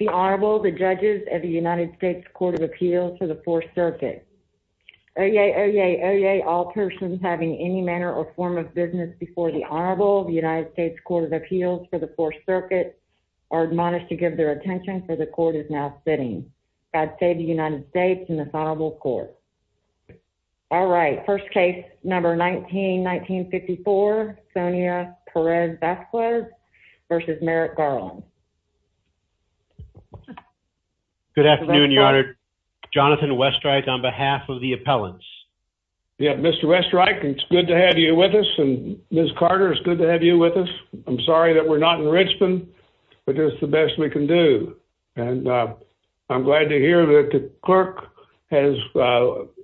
The Honorable, the Judges of the United States Court of Appeals for the Fourth Circuit. Oyez, oyez, oyez, all persons having any manner or form of business before the Honorable of the United States Court of Appeals for the Fourth Circuit are admonished to give their attention, for the Court is now sitting. God save the United States and this Honorable Court. All right, first case number 19-1954, Sonia Perez Vasquez versus Merrick Garland. Good afternoon, Your Honor. Jonathan Westreich on behalf of the appellants. Yeah, Mr. Westreich, it's good to have you with us, and Ms. Carter, it's good to have you with us. I'm sorry that we're not in Richmond, but it's the best we can do. And I'm glad to hear that the clerk has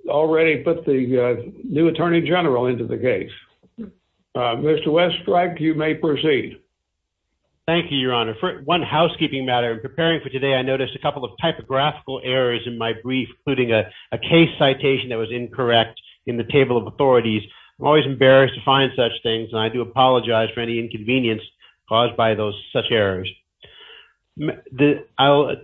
already put the new Attorney General into the case. Mr. Westreich, you may proceed. Thank you, Your Honor. For one housekeeping matter, preparing for today, I noticed a couple of typographical errors in my brief, including a case citation that was incorrect in the table of authorities. I'm always embarrassed to find such things, and I do apologize for any inconvenience caused by such errors. I'll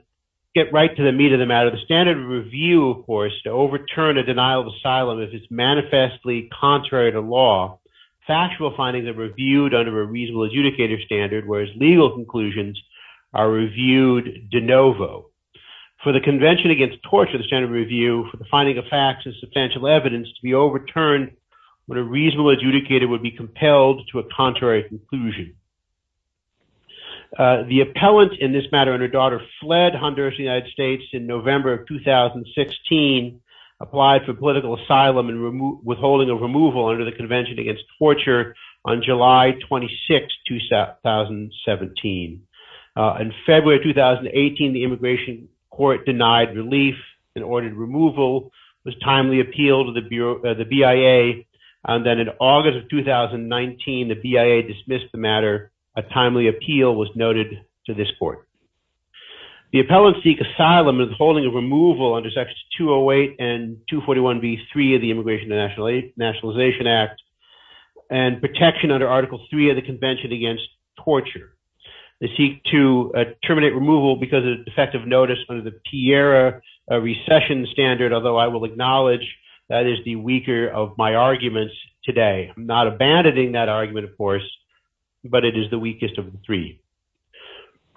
get right to the meat of the matter. The standard of review, of course, to overturn a denial of asylum, if it's manifestly contrary to law, factual findings are reviewed under a reasonable adjudicator standard, whereas legal conclusions are reviewed de novo. For the Convention Against Torture, the standard of review for the finding of facts and substantial evidence to be overturned when a reasonable adjudicator would be compelled to a contrary conclusion. The appellant in this matter and her daughter fled Honduras, the United States in November of 2016, applied for political asylum and withholding of removal under the Convention Against Torture on July 26, 2017. In February of 2018, the Immigration Court denied relief and ordered removal, was timely appealed to the BIA, and then in August of 2019, the BIA dismissed the matter. A timely appeal was noted to this court. The appellant seek asylum and withholding of removal under Sections 208 and 241b-3 of the Immigration and Nationalization Act and protection under Article III of the Convention Against Torture. They seek to terminate removal because of defective notice under the Piera recession standard, although I will acknowledge that is the weaker of my arguments today. I'm not abandoning that argument, of course, but it is the weakest of the three.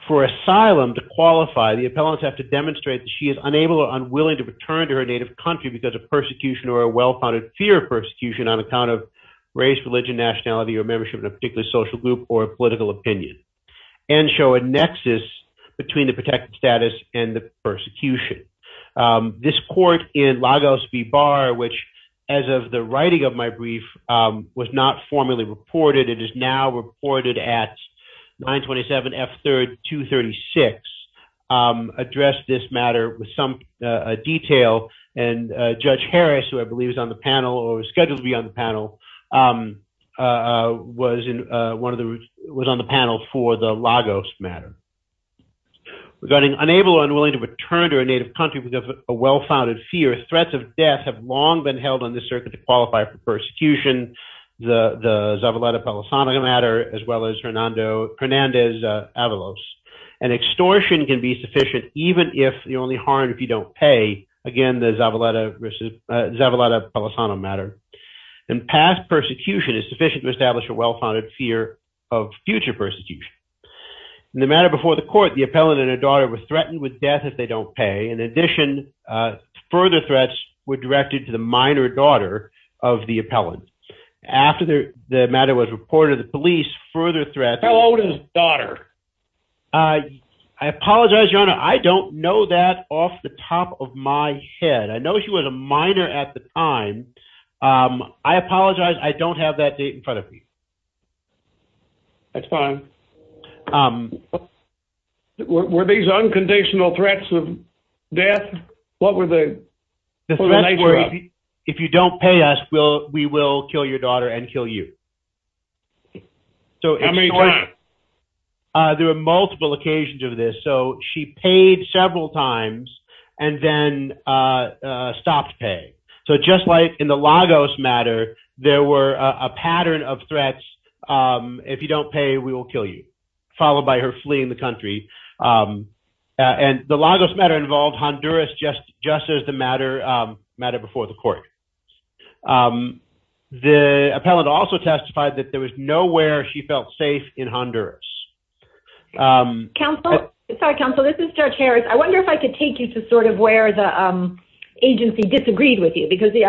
For asylum to qualify, the appellants have to demonstrate that she is unable or unwilling to return to her native country because of persecution or a well-founded fear of persecution on account of race, religion, nationality, or membership in a particular social group or political opinion, and show a nexus between the protected status and the persecution. This court in Lagos-Bibar, which, as of the writing of my brief, was not formally reported. It is now reported at 927F3-236, addressed this matter with some detail, and Judge Harris, who I believe is on the panel or is scheduled to be on the panel, was on the panel for the Lagos matter. Regarding unable or unwilling to return to her native country because of a well-founded fear, threats of death have long been held on this circuit to qualify for persecution, the Zavaleta-Palosano matter, as well as Hernandez-Avalos. An extortion can be sufficient even if you're only harmed if you don't pay. Again, the Zavaleta-Palosano matter. And past persecution is sufficient to establish a well-founded fear of future persecution. In the matter before the court, the appellant and her daughter were threatened with death if they don't pay. In addition, further threats were directed to the minor daughter of the appellant. After the matter was reported to the police, further threats... How old is his daughter? I apologize, Your Honor, I don't know that off the top of my head. I know she was a minor at the time. I apologize, I don't have that date in front of me. That's fine. Were these unconditional threats of death? What were the... The threats were, if you don't pay us, we will kill your daughter and kill you. How many times? There were multiple occasions of this. So she paid several times and then stopped paying. So just like in the Lagos matter, there were a pattern of threats, if you don't pay, we will kill you, followed by her fleeing the country. And the Lagos matter involved Honduras just as the matter before the court. The appellant also testified that there was nowhere she felt safe in Honduras. Counsel, this is Judge Harris. I wonder if I could take you to sort of where the agency disagreed with you, because the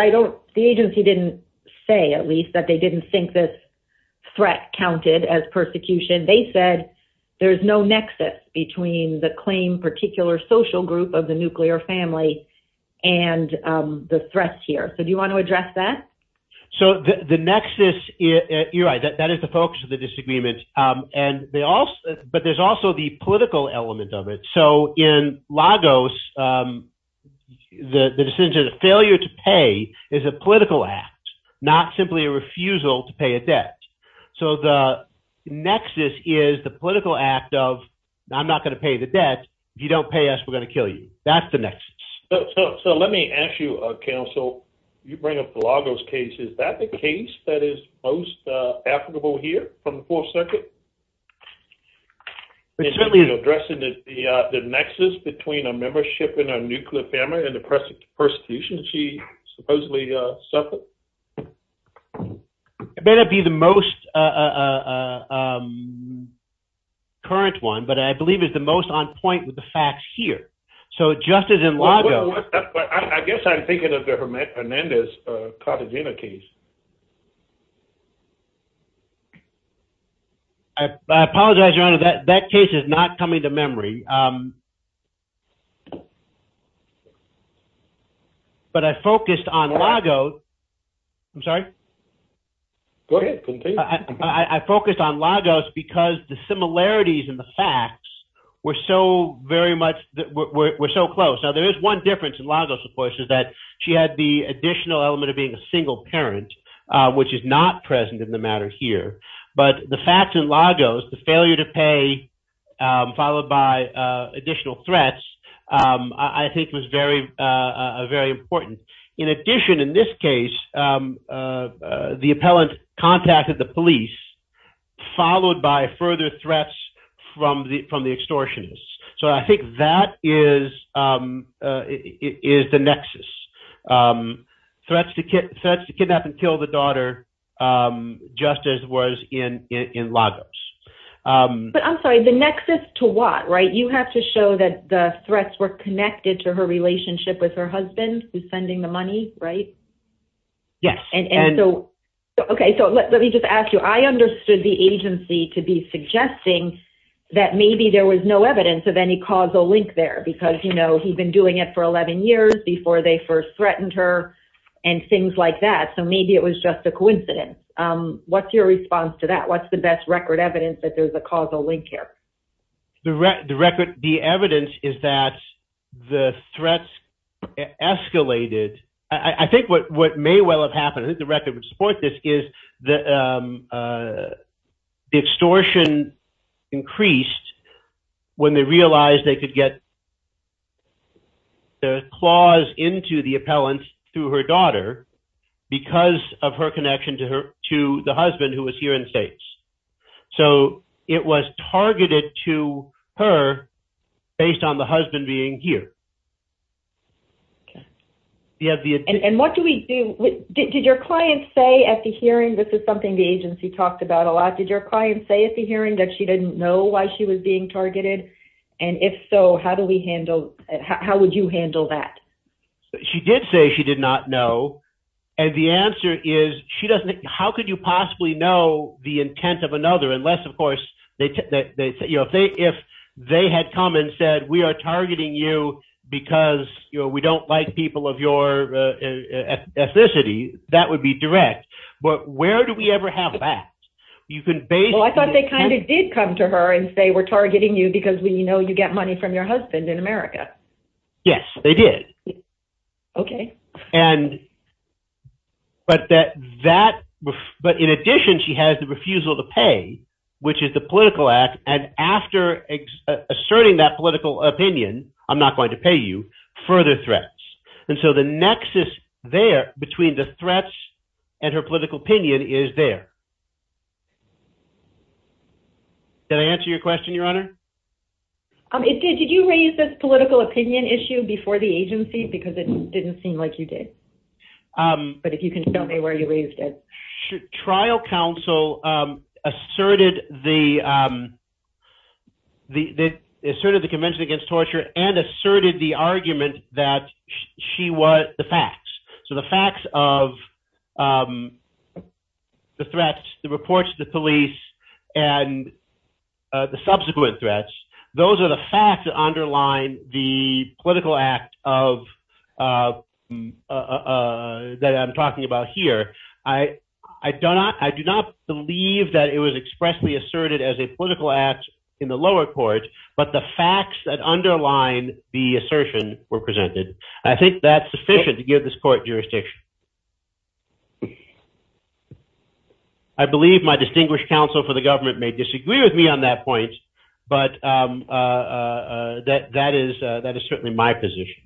agency didn't say, at least, that they didn't think this threat counted as persecution. They said there's no nexus between the claim particular social group of the nuclear family and the threats here. So do you want to address that? So the nexus, you're right, that is the focus of the disagreement. But there's also the political element of it. So in Lagos, the decision to failure to pay is a political act, not simply a refusal to pay a debt. So the nexus is the political act of, I'm not going to pay the debt. If you don't pay us, we're going to kill you. That's the nexus. So let me ask you, Counsel, you bring up the Lagos case. Is that the case that is most applicable here from the Fourth Circuit? It certainly is. Addressing the nexus between a membership in a nuclear family and the persecution she supposedly suffered? It may not be the most current one, but I believe it's the most on point with the facts here. So just as in Lagos. I guess I'm thinking of the Hernandez-Cartagena case. I apologize, Your Honor, that case is not coming to memory. But I focused on Lagos. I'm sorry? Go ahead. Continue. I focused on Lagos because the similarities in the facts were so very much, were so close. Now, there is one difference in Lagos, of course, is that she had the additional element of being a single parent, which is not present in the matter here. But the facts in Lagos, the failure to pay, followed by additional threats, I think was very important. In addition, in this case, the appellant contacted the police, followed by further threats from the extortionists. So I think that is the nexus. Threats to kidnap and kill the daughter, just as was in Lagos. But I'm sorry, the nexus to what, right? You have to show that the threats were connected to her relationship with her husband, who's sending the money, right? Yes. Okay, so let me just ask you. I understood the agency to be suggesting that maybe there was no evidence of any causal link there because, you know, he'd been doing it for 11 years before they first threatened her and things like that. So maybe it was just a coincidence. What's your response to that? What's the best record evidence that there's a causal link here? The record, the evidence is that the threats escalated. I think what may well have happened, I think the record would support this, is the extortion increased when they realized they could get the claws into the appellant through her daughter because of her connection to the husband, who was here in states. So it was targeted to her based on the husband being here. And what do we do, did your client say at the hearing, this is something the agency talked about a lot, did your client say at the hearing that she didn't know why she was being targeted? And if so, how do we handle, how would you handle that? She did say she did not know. And the answer is, she doesn't, how could you possibly know the intent of another unless, of course, if they had come and said, we are targeting you because we don't like people of your ethnicity, that would be direct. But where do we ever have that? Well, I thought they kind of did come to her and say, we're targeting you because we know you get money from your husband in America. Yes, they did. Okay. But in addition, she has the refusal to pay, which is the political act. And after asserting that political opinion, I'm not going to pay you, further threats. And so the nexus there between the threats and her political opinion is there. Did I answer your question, Your Honor? Did you raise this political opinion issue before the agency because it didn't seem like you did? But if you can tell me where you raised it. Trial counsel asserted the convention against torture and asserted the argument that she was, the facts. So the facts of the threats, the reports to the police and the subsequent threats, those are the facts that underline the political act of that I'm talking about here. I do not believe that it was expressly asserted as a political act in the lower court, but the facts that underline the assertion were presented. I think that's sufficient to give this court jurisdiction. I believe my distinguished counsel for the government may disagree with me on that point, but that is certainly my position.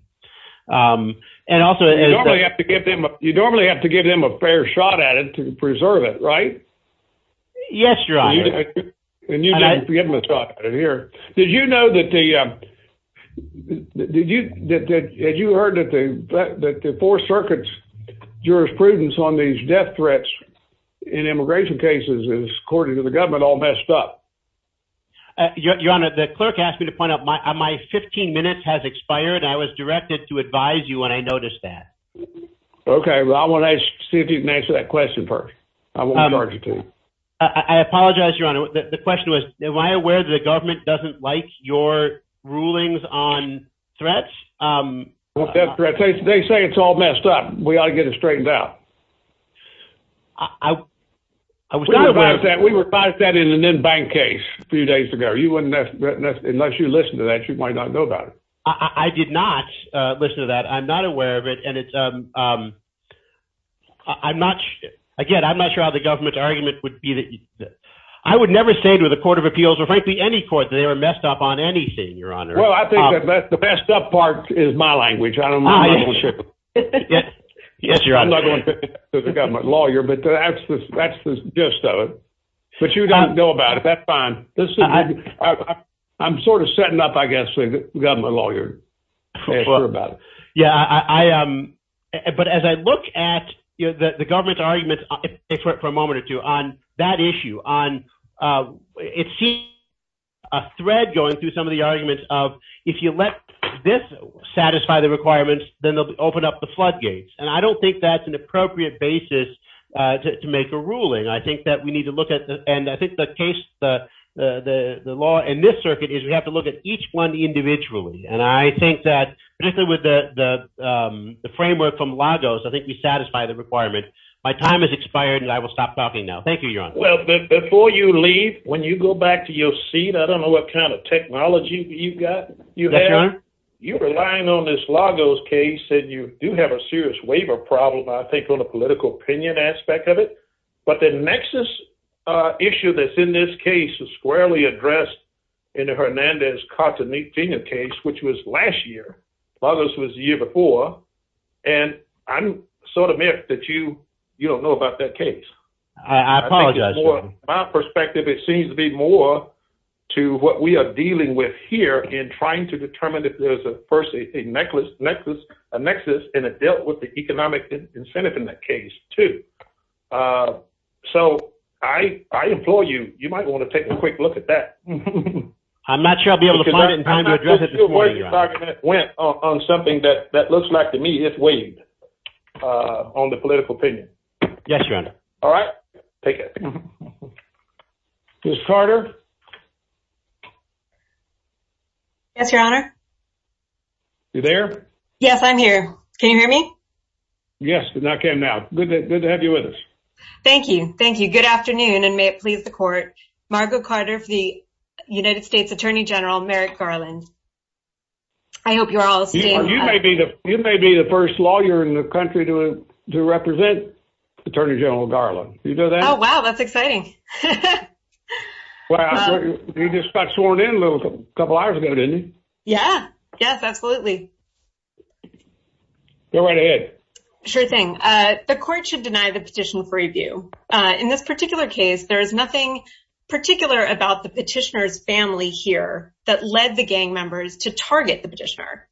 And also, I have to get them. You normally have to give them a fair shot at it to preserve it, right? Yes, you're right. And you're going to be able to talk here. Did you know that the did you that you heard that the four circuits jurisprudence on these death threats in immigration cases is, according to the government, all messed up? Your Honor, the clerk asked me to point out my 15 minutes has expired. I was directed to advise you when I noticed that. Okay, well, I want to see if you can answer that question first. I apologize, Your Honor. The question was, am I aware that the government doesn't like your rulings on threats? They say it's all messed up. We ought to get it straightened out. I was not aware of that. We revised that in an in-bank case a few days ago. Unless you listen to that, you might not know about it. I did not listen to that. I'm not aware of it. And it's I'm not. Again, I'm not sure how the government's argument would be that I would never say to the Court of Appeals or frankly, any court that they were messed up on anything, Your Honor. Well, I think that the messed up part is my language. I don't know. Yes, Your Honor. I'm not going to say that to the government lawyer, but that's the gist of it. But you don't know about it. That's fine. I'm sort of setting up, I guess, for the government lawyer to be sure about it. Yeah, I am. But as I look at the government's arguments, for a moment or two, on that issue, on it seems a thread going through some of the arguments of if you let this satisfy the requirements, then they'll open up the floodgates. And I don't think that's an appropriate basis to make a ruling. I think that we need to look at and I think the case, the law in this circuit is we have to look at each one individually. And I think that particularly with the framework from Lagos, I think we satisfy the requirement. My time has expired and I will stop talking now. Thank you, Your Honor. Well, before you leave, when you go back to your seat, I don't know what kind of technology you've got. Yes, Your Honor. You're relying on this Lagos case and you do have a serious waiver problem, I think, on the political opinion aspect of it. But the nexus issue that's in this case is squarely addressed in the Hernandez-Cartagena case, which was last year. Lagos was the year before. And I'm sort of miffed that you don't know about that case. I apologize, Your Honor. From my perspective, it seems to be more to what we are dealing with here in trying to determine if there's a person, a nexus, and it dealt with the economic incentive in that case, too. So I implore you, you might want to take a quick look at that. I'm not sure I'll be able to find it in time to address it this morning, Your Honor. I'm not sure your argument went on something that looks like to me it's waived on the political opinion. Yes, Your Honor. All right. Ms. Carter? Yes, Your Honor. You there? Yes, I'm here. Can you hear me? Yes, I can now. Good to have you with us. Thank you. Thank you. Good afternoon, and may it please the Court. Margo Carter for the United States Attorney General, Merrick Garland. I hope you're all staying. You may be the first lawyer in the country to represent Attorney General Garland. You know that? Oh, wow, that's exciting. Well, he just got sworn in a couple of hours ago, didn't he? Yeah, yes, absolutely. Go right ahead. Sure thing. The Court should deny the petition for review. In this particular case, there is nothing particular about the petitioner's family here that led the gang members to target the petitioner.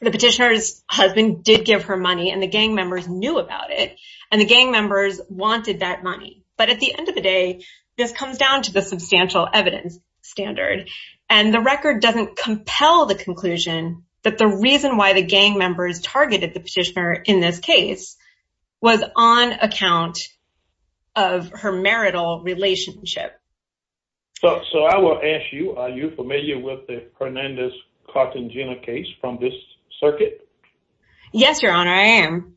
The petitioner's husband did give her money, and the gang members knew about it, and the gang members wanted that money. But at the end of the day, this comes down to the substantial evidence standard. And the record doesn't compel the conclusion that the reason why the gang members targeted the petitioner in this case was on account of her marital relationship. So I will ask you, are you familiar with the Hernandez-Cartagena case from this circuit? Yes, Your Honor, I am.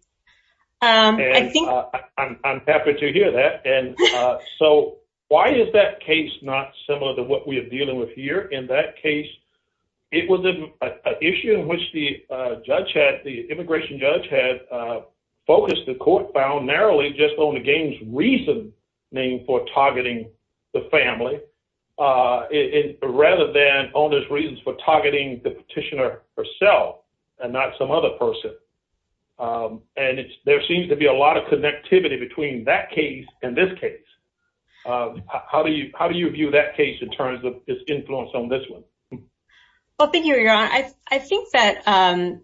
I'm happy to hear that. And so why is that case not similar to what we are dealing with here? In that case, it was an issue in which the immigration judge had focused the court found narrowly just on the gang's reasoning for targeting the family rather than on its reasons for targeting the petitioner herself and not some other person. And there seems to be a lot of connectivity between that case and this case. How do you view that case in terms of its influence on this one? Well, thank you, Your Honor. I think that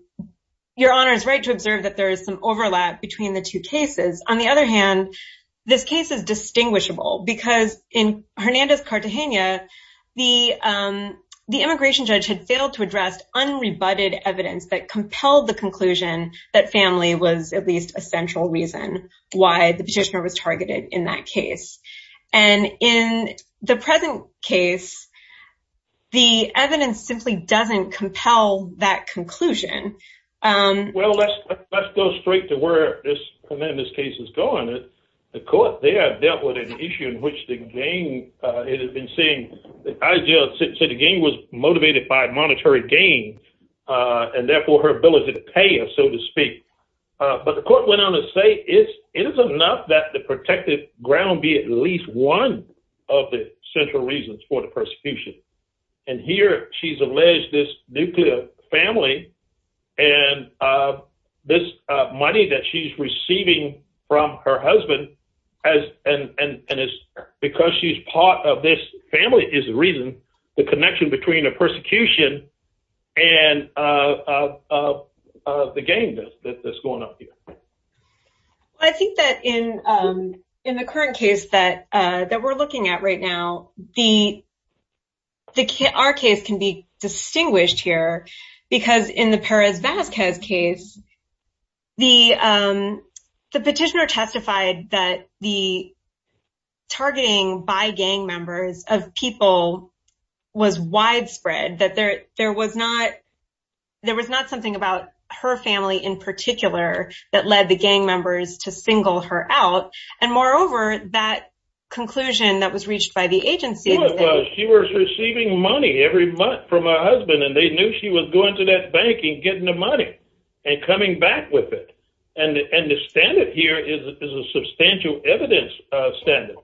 Your Honor is right to observe that there is some overlap between the two cases. On the other hand, this case is distinguishable because in Hernandez-Cartagena, the immigration judge had failed to address unrebutted evidence that compelled the conclusion that family was at least a central reason why the petitioner was targeted in that case. And in the present case, the evidence simply doesn't compel that conclusion. Well, let's go straight to where this Hernandez case is going. The court there dealt with an issue in which the gang had been saying that the gang was motivated by monetary gain and therefore her ability to pay us, so to speak. But the court went on to say it is enough that the protected ground be at least one of the central reasons for the persecution. And here she's alleged this nuclear family and this money that she's receiving from her husband, and it's because she's part of this family is the reason, the connection between the persecution and the gang that's going on here. I think that in the current case that we're looking at right now, our case can be distinguished here because in the Perez-Vazquez case, the petitioner testified that the targeting by gang members of people was widespread. That there was not something about her family in particular that led the gang members to single her out. And moreover, that conclusion that was reached by the agency. She was receiving money every month from her husband, and they knew she was going to that bank and getting the money and coming back with it. And the standard here is a substantial evidence standard.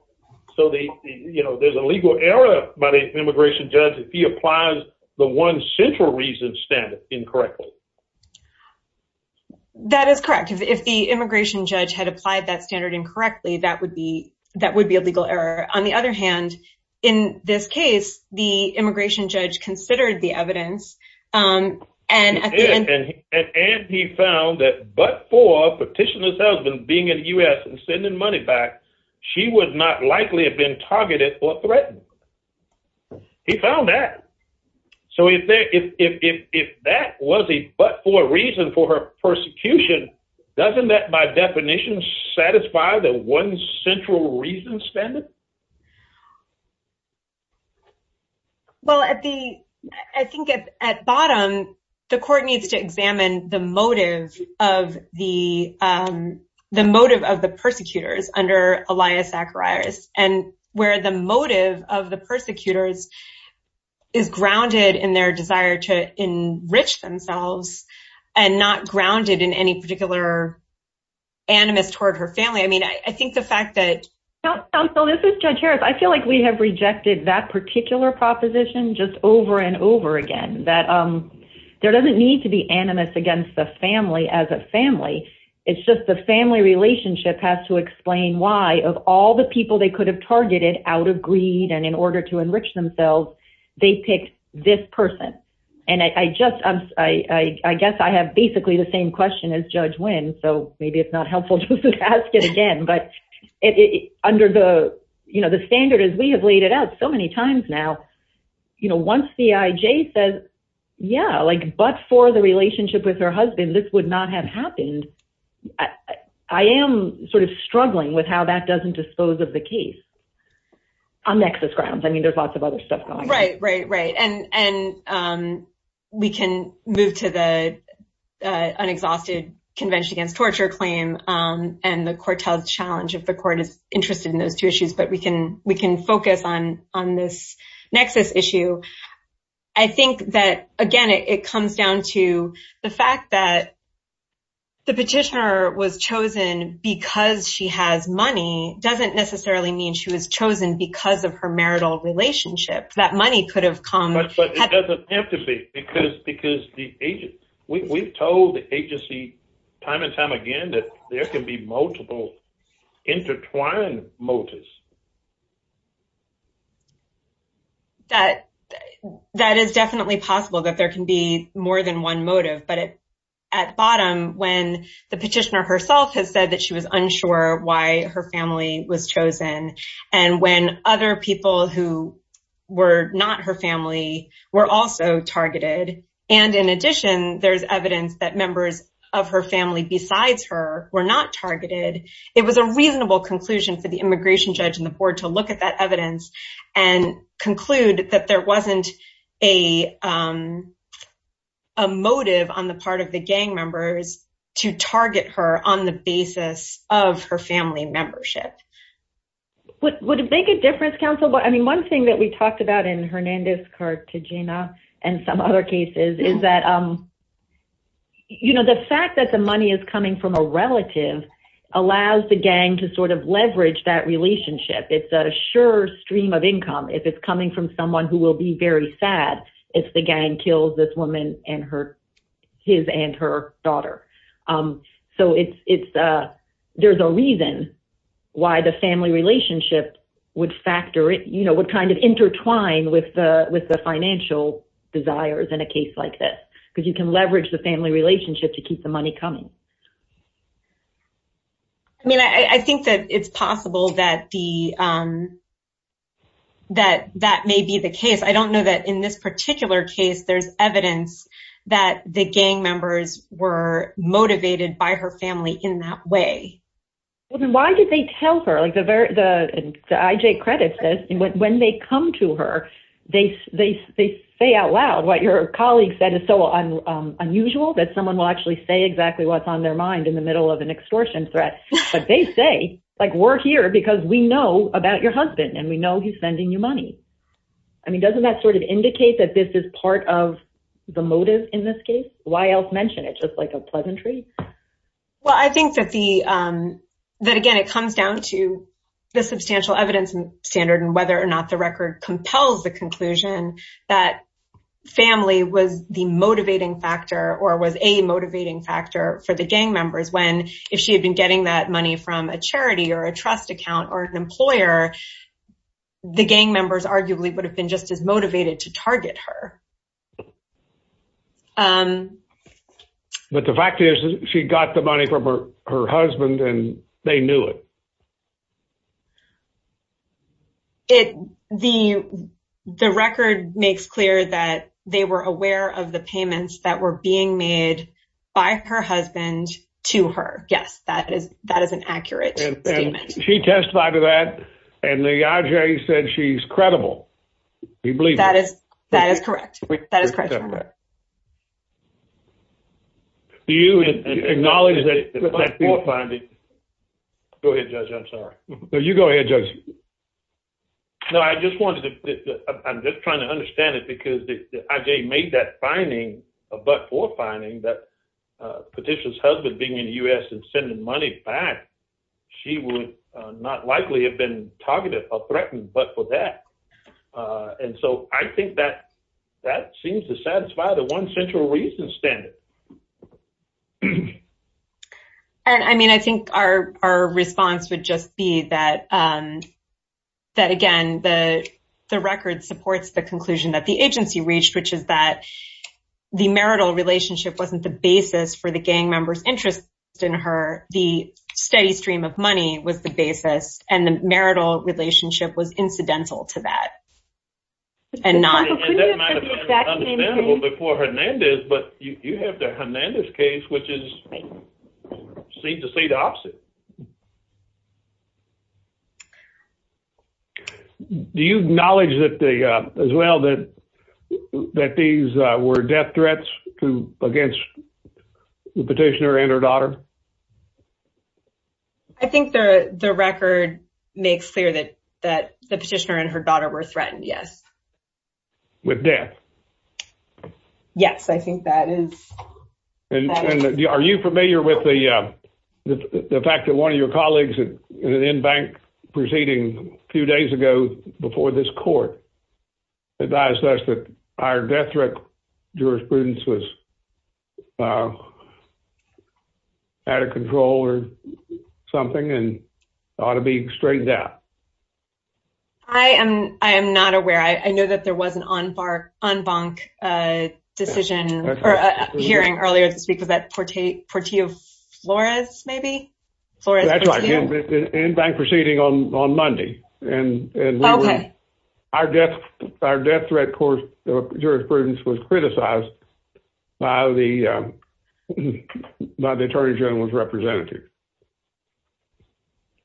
So there's a legal error by the immigration judge if he applies the one central reason standard incorrectly. That is correct. If the immigration judge had applied that standard incorrectly, that would be a legal error. On the other hand, in this case, the immigration judge considered the evidence. And he found that but for petitioner's husband being in the U.S. and sending money back, she would not likely have been targeted or threatened. He found that. So if that was a but for reason for her persecution, doesn't that by definition satisfy the one central reason standard? Well, I think at bottom, the court needs to examine the motive of the persecutors under Elias Zacharias. And where the motive of the persecutors is grounded in their desire to enrich themselves and not grounded in any particular animus toward her family. I mean, I think the fact that... Counsel, this is Judge Harris. I feel like we have rejected that particular proposition just over and over again. That there doesn't need to be animus against the family as a family. It's just the family relationship has to explain why of all the people they could have targeted out of greed and in order to enrich themselves, they picked this person. And I just I guess I have basically the same question as Judge Wynn. So maybe it's not helpful to ask it again. But under the standard as we have laid it out so many times now, once the IJ says, yeah, like but for the relationship with her husband, this would not have happened. I am sort of struggling with how that doesn't dispose of the case on nexus grounds. I mean, there's lots of other stuff. Right, right, right. And and we can move to the unexhausted Convention Against Torture claim. And the court held challenge of the court is interested in those two issues. But we can we can focus on on this nexus issue. I think that, again, it comes down to the fact that. The petitioner was chosen because she has money doesn't necessarily mean she was chosen because of her marital relationship, that money could have come. But it doesn't have to be because because the agent we've told the agency time and time again that there can be multiple intertwined motives. That that is definitely possible that there can be more than one motive, but at bottom, when the petitioner herself has said that she was unsure why her family was chosen and when other people who were not her family were also targeted. And in addition, there's evidence that members of her family besides her were not targeted. It was a reasonable conclusion for the immigration judge and the board to look at that evidence and conclude that there wasn't a motive on the part of the gang members to target her on the basis of her family membership. Would it make a difference, counsel? I mean, one thing that we talked about in Hernandez, Cartagena and some other cases is that, you know, the fact that the money is coming from a relative allows the gang to sort of leverage that relationship. It's a sure stream of income. If it's coming from someone who will be very sad if the gang kills this woman and her his and her daughter. So it's it's there's a reason why the family relationship would factor it, you know, would kind of intertwine with the with the financial desires in a case like this, because you can leverage the family relationship to keep the money coming. I mean, I think that it's possible that the. That that may be the case. I don't know that in this particular case, there's evidence that the gang members were motivated by her family in that way. Why did they tell her like the very the IJ credit says when they come to her, they say out loud what your colleague said is so unusual that someone will actually say exactly what's on their mind in the middle of an extortion threat. But they say, like, we're here because we know about your husband and we know he's sending you money. I mean, doesn't that sort of indicate that this is part of the motive in this case? Why else mention it just like a pleasantry? Well, I think that the that, again, it comes down to the substantial evidence standard and whether or not the record compels the conclusion that family was the motivating factor or was a motivating factor for the gang members when if she had been getting that money from a charity or a trust account or an employer, the gang members arguably would have been just as motivated to target her. But the fact is, she got the money from her husband and they knew it. It the the record makes clear that they were aware of the payments that were being made by her husband to her. Yes, that is that is an accurate statement. She testified to that and the IJ said she's credible. We believe that is that is correct. That is correct. Do you acknowledge that finding? Go ahead, judge. I'm sorry. No, you go ahead, judge. No, I just wanted to I'm just trying to understand it because I made that finding. But for finding that petition's husband being in the U.S. and sending money back, she would not likely have been targeted or threatened. But for that. And so I think that that seems to satisfy the one central reason standard. And I mean, I think our our response would just be that that, again, the the record supports the conclusion that the agency reached, which is that the marital relationship wasn't the basis for the gang members interest in her. The steady stream of money was the basis and the marital relationship was incidental to that. And that might have been understandable before Hernandez, but you have the Hernandez case, which is seem to say the opposite. Do you acknowledge that as well, that that these were death threats to against the petitioner and her daughter? I think the record makes clear that that the petitioner and her daughter were threatened, yes. With death? Yes, I think that is. And are you familiar with the fact that one of your colleagues in bank proceeding a few days ago before this court advised us that our death threat jurisprudence was. Out of control or something and ought to be straightened out. I am I am not aware, I know that there was an on bar on bank decision hearing earlier this week was that Portillo Flores, maybe. That's right. In bank proceeding on Monday. And our death, our death threat court jurisprudence was criticized by the by the attorney general's representative.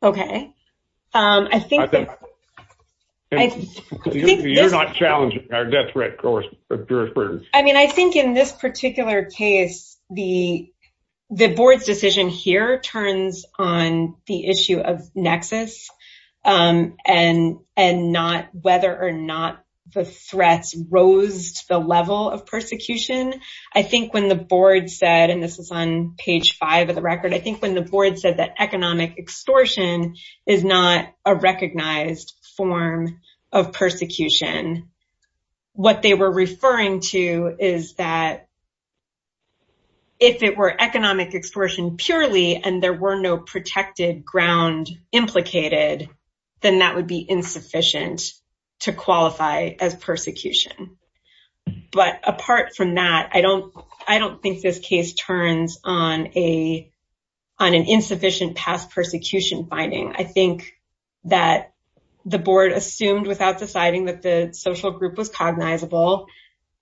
OK, I think. I think you're not challenging our death threat, of course, jurisprudence. I mean, I think in this particular case, the the board's decision here turns on the issue of nexus and and not whether or not the threats rose to the level of persecution. I think when the board said and this is on page five of the record, I think when the board said that economic extortion is not a recognized form of persecution. What they were referring to is that. If it were economic extortion purely and there were no protected ground implicated, then that would be insufficient to qualify as persecution. But apart from that, I don't I don't think this case turns on a on an insufficient past persecution finding. I think that the board assumed without deciding that the social group was cognizable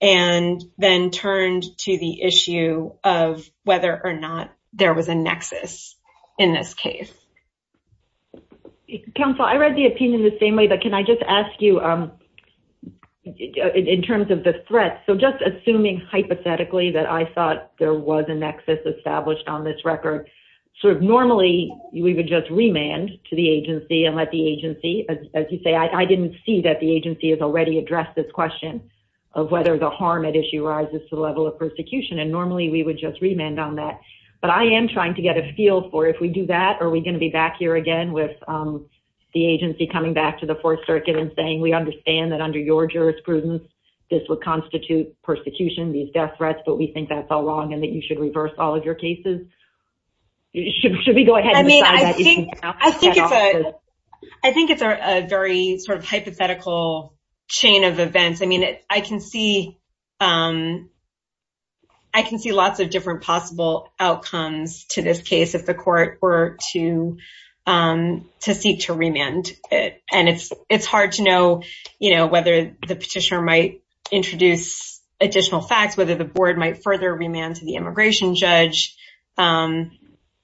and then turned to the issue of whether or not there was a nexus in this case. Counsel, I read the opinion the same way, but can I just ask you in terms of the threat? So just assuming hypothetically that I thought there was a nexus established on this record. So normally we would just remand to the agency and let the agency, as you say, I didn't see that the agency has already addressed this question of whether the harm at issue rises to the level of persecution. And normally we would just remand on that. But I am trying to get a feel for if we do that. Are we going to be back here again with the agency coming back to the Fourth Circuit and saying we understand that under your jurisprudence, this would constitute persecution, these death threats. But we think that's all wrong and that you should reverse all of your cases. Should we go ahead? I mean, I think I think it's a I think it's a very sort of hypothetical chain of events. I mean, I can see I can see lots of different possible outcomes to this case if the court were to to seek to remand it. And it's it's hard to know whether the petitioner might introduce additional facts, whether the board might further remand to the immigration judge.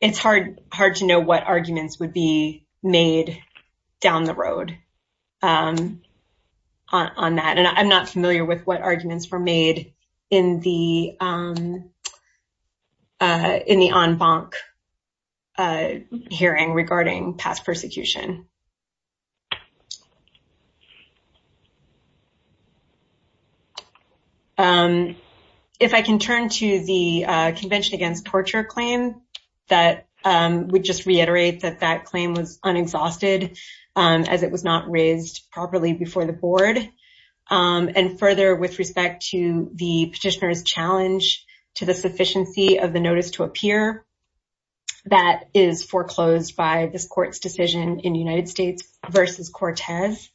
It's hard, hard to know what arguments would be made down the road on that. And I'm not familiar with what arguments were made in the in the en banc hearing regarding past persecution. If I can turn to the Convention Against Torture claim, that would just reiterate that that claim was unexhausted as it was not raised properly before the board. And further, with respect to the petitioner's challenge to the sufficiency of the notice to appear, that is foreclosed by this court's decision in June. And so that's why it's not in the United States versus Cortez.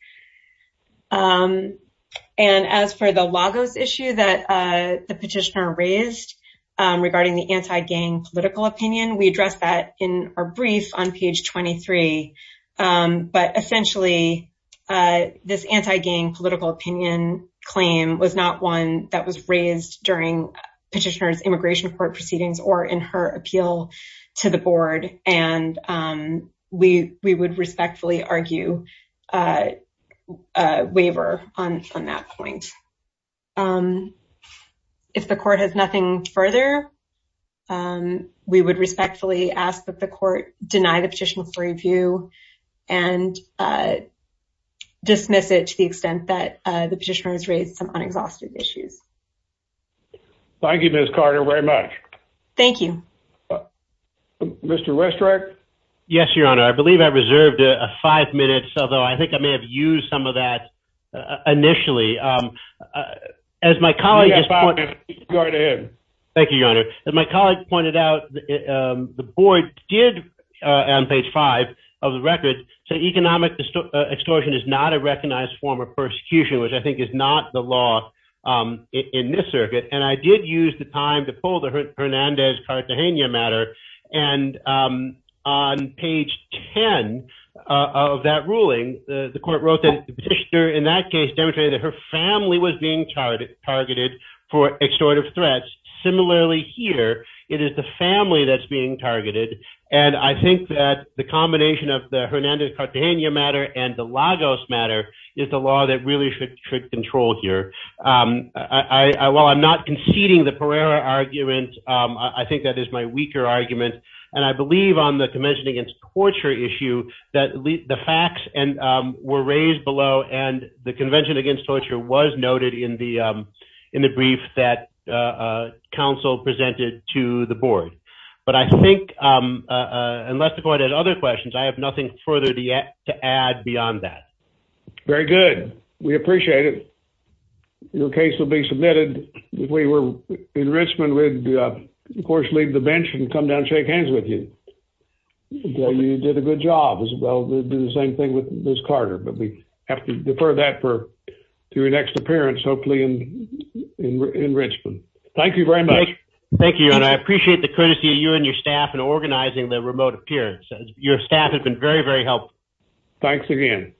And as for the logos issue that the petitioner raised regarding the anti-gang political opinion, we addressed that in our brief on page twenty three. But essentially, this anti-gang political opinion claim was not one that was raised during petitioner's immigration court proceedings or in her appeal to the board. And we we would respectfully argue a waiver on that point. If the court has nothing further, we would respectfully ask that the court deny the petition for review and dismiss it to the extent that the petitioner has raised some unexhausted issues. Thank you, Ms. Carter, very much. Thank you, Mr. Westrick. Yes, your honor. I believe I reserved a five minutes, although I think I may have used some of that initially as my colleague. Thank you, your honor. And my colleague pointed out the board did on page five of the record. So economic distortion is not a recognized form of persecution, which I think is not the law in this circuit. And I did use the time to pull the Hernandez Cartagena matter. And on page ten of that ruling, the court wrote that the petitioner in that case demonstrated that her family was being targeted for extortive threats. Similarly here, it is the family that's being targeted. And I think that the combination of the Hernandez Cartagena matter and the Lagos matter is the law that really should control here. While I'm not conceding the Pereira argument, I think that is my weaker argument. And I believe on the Convention Against Torture issue that the facts were raised below. And the Convention Against Torture was noted in the brief that counsel presented to the board. But I think unless the court has other questions, I have nothing further to add beyond that. Very good. We appreciate it. Your case will be submitted. If we were in Richmond, we'd of course leave the bench and come down and shake hands with you. You did a good job as well. We'll do the same thing with Ms. Carter. But we have to defer that to your next appearance, hopefully in Richmond. Thank you very much. Thank you, and I appreciate the courtesy of you and your staff in organizing the remote appearance. Your staff has been very, very helpful. Thanks again.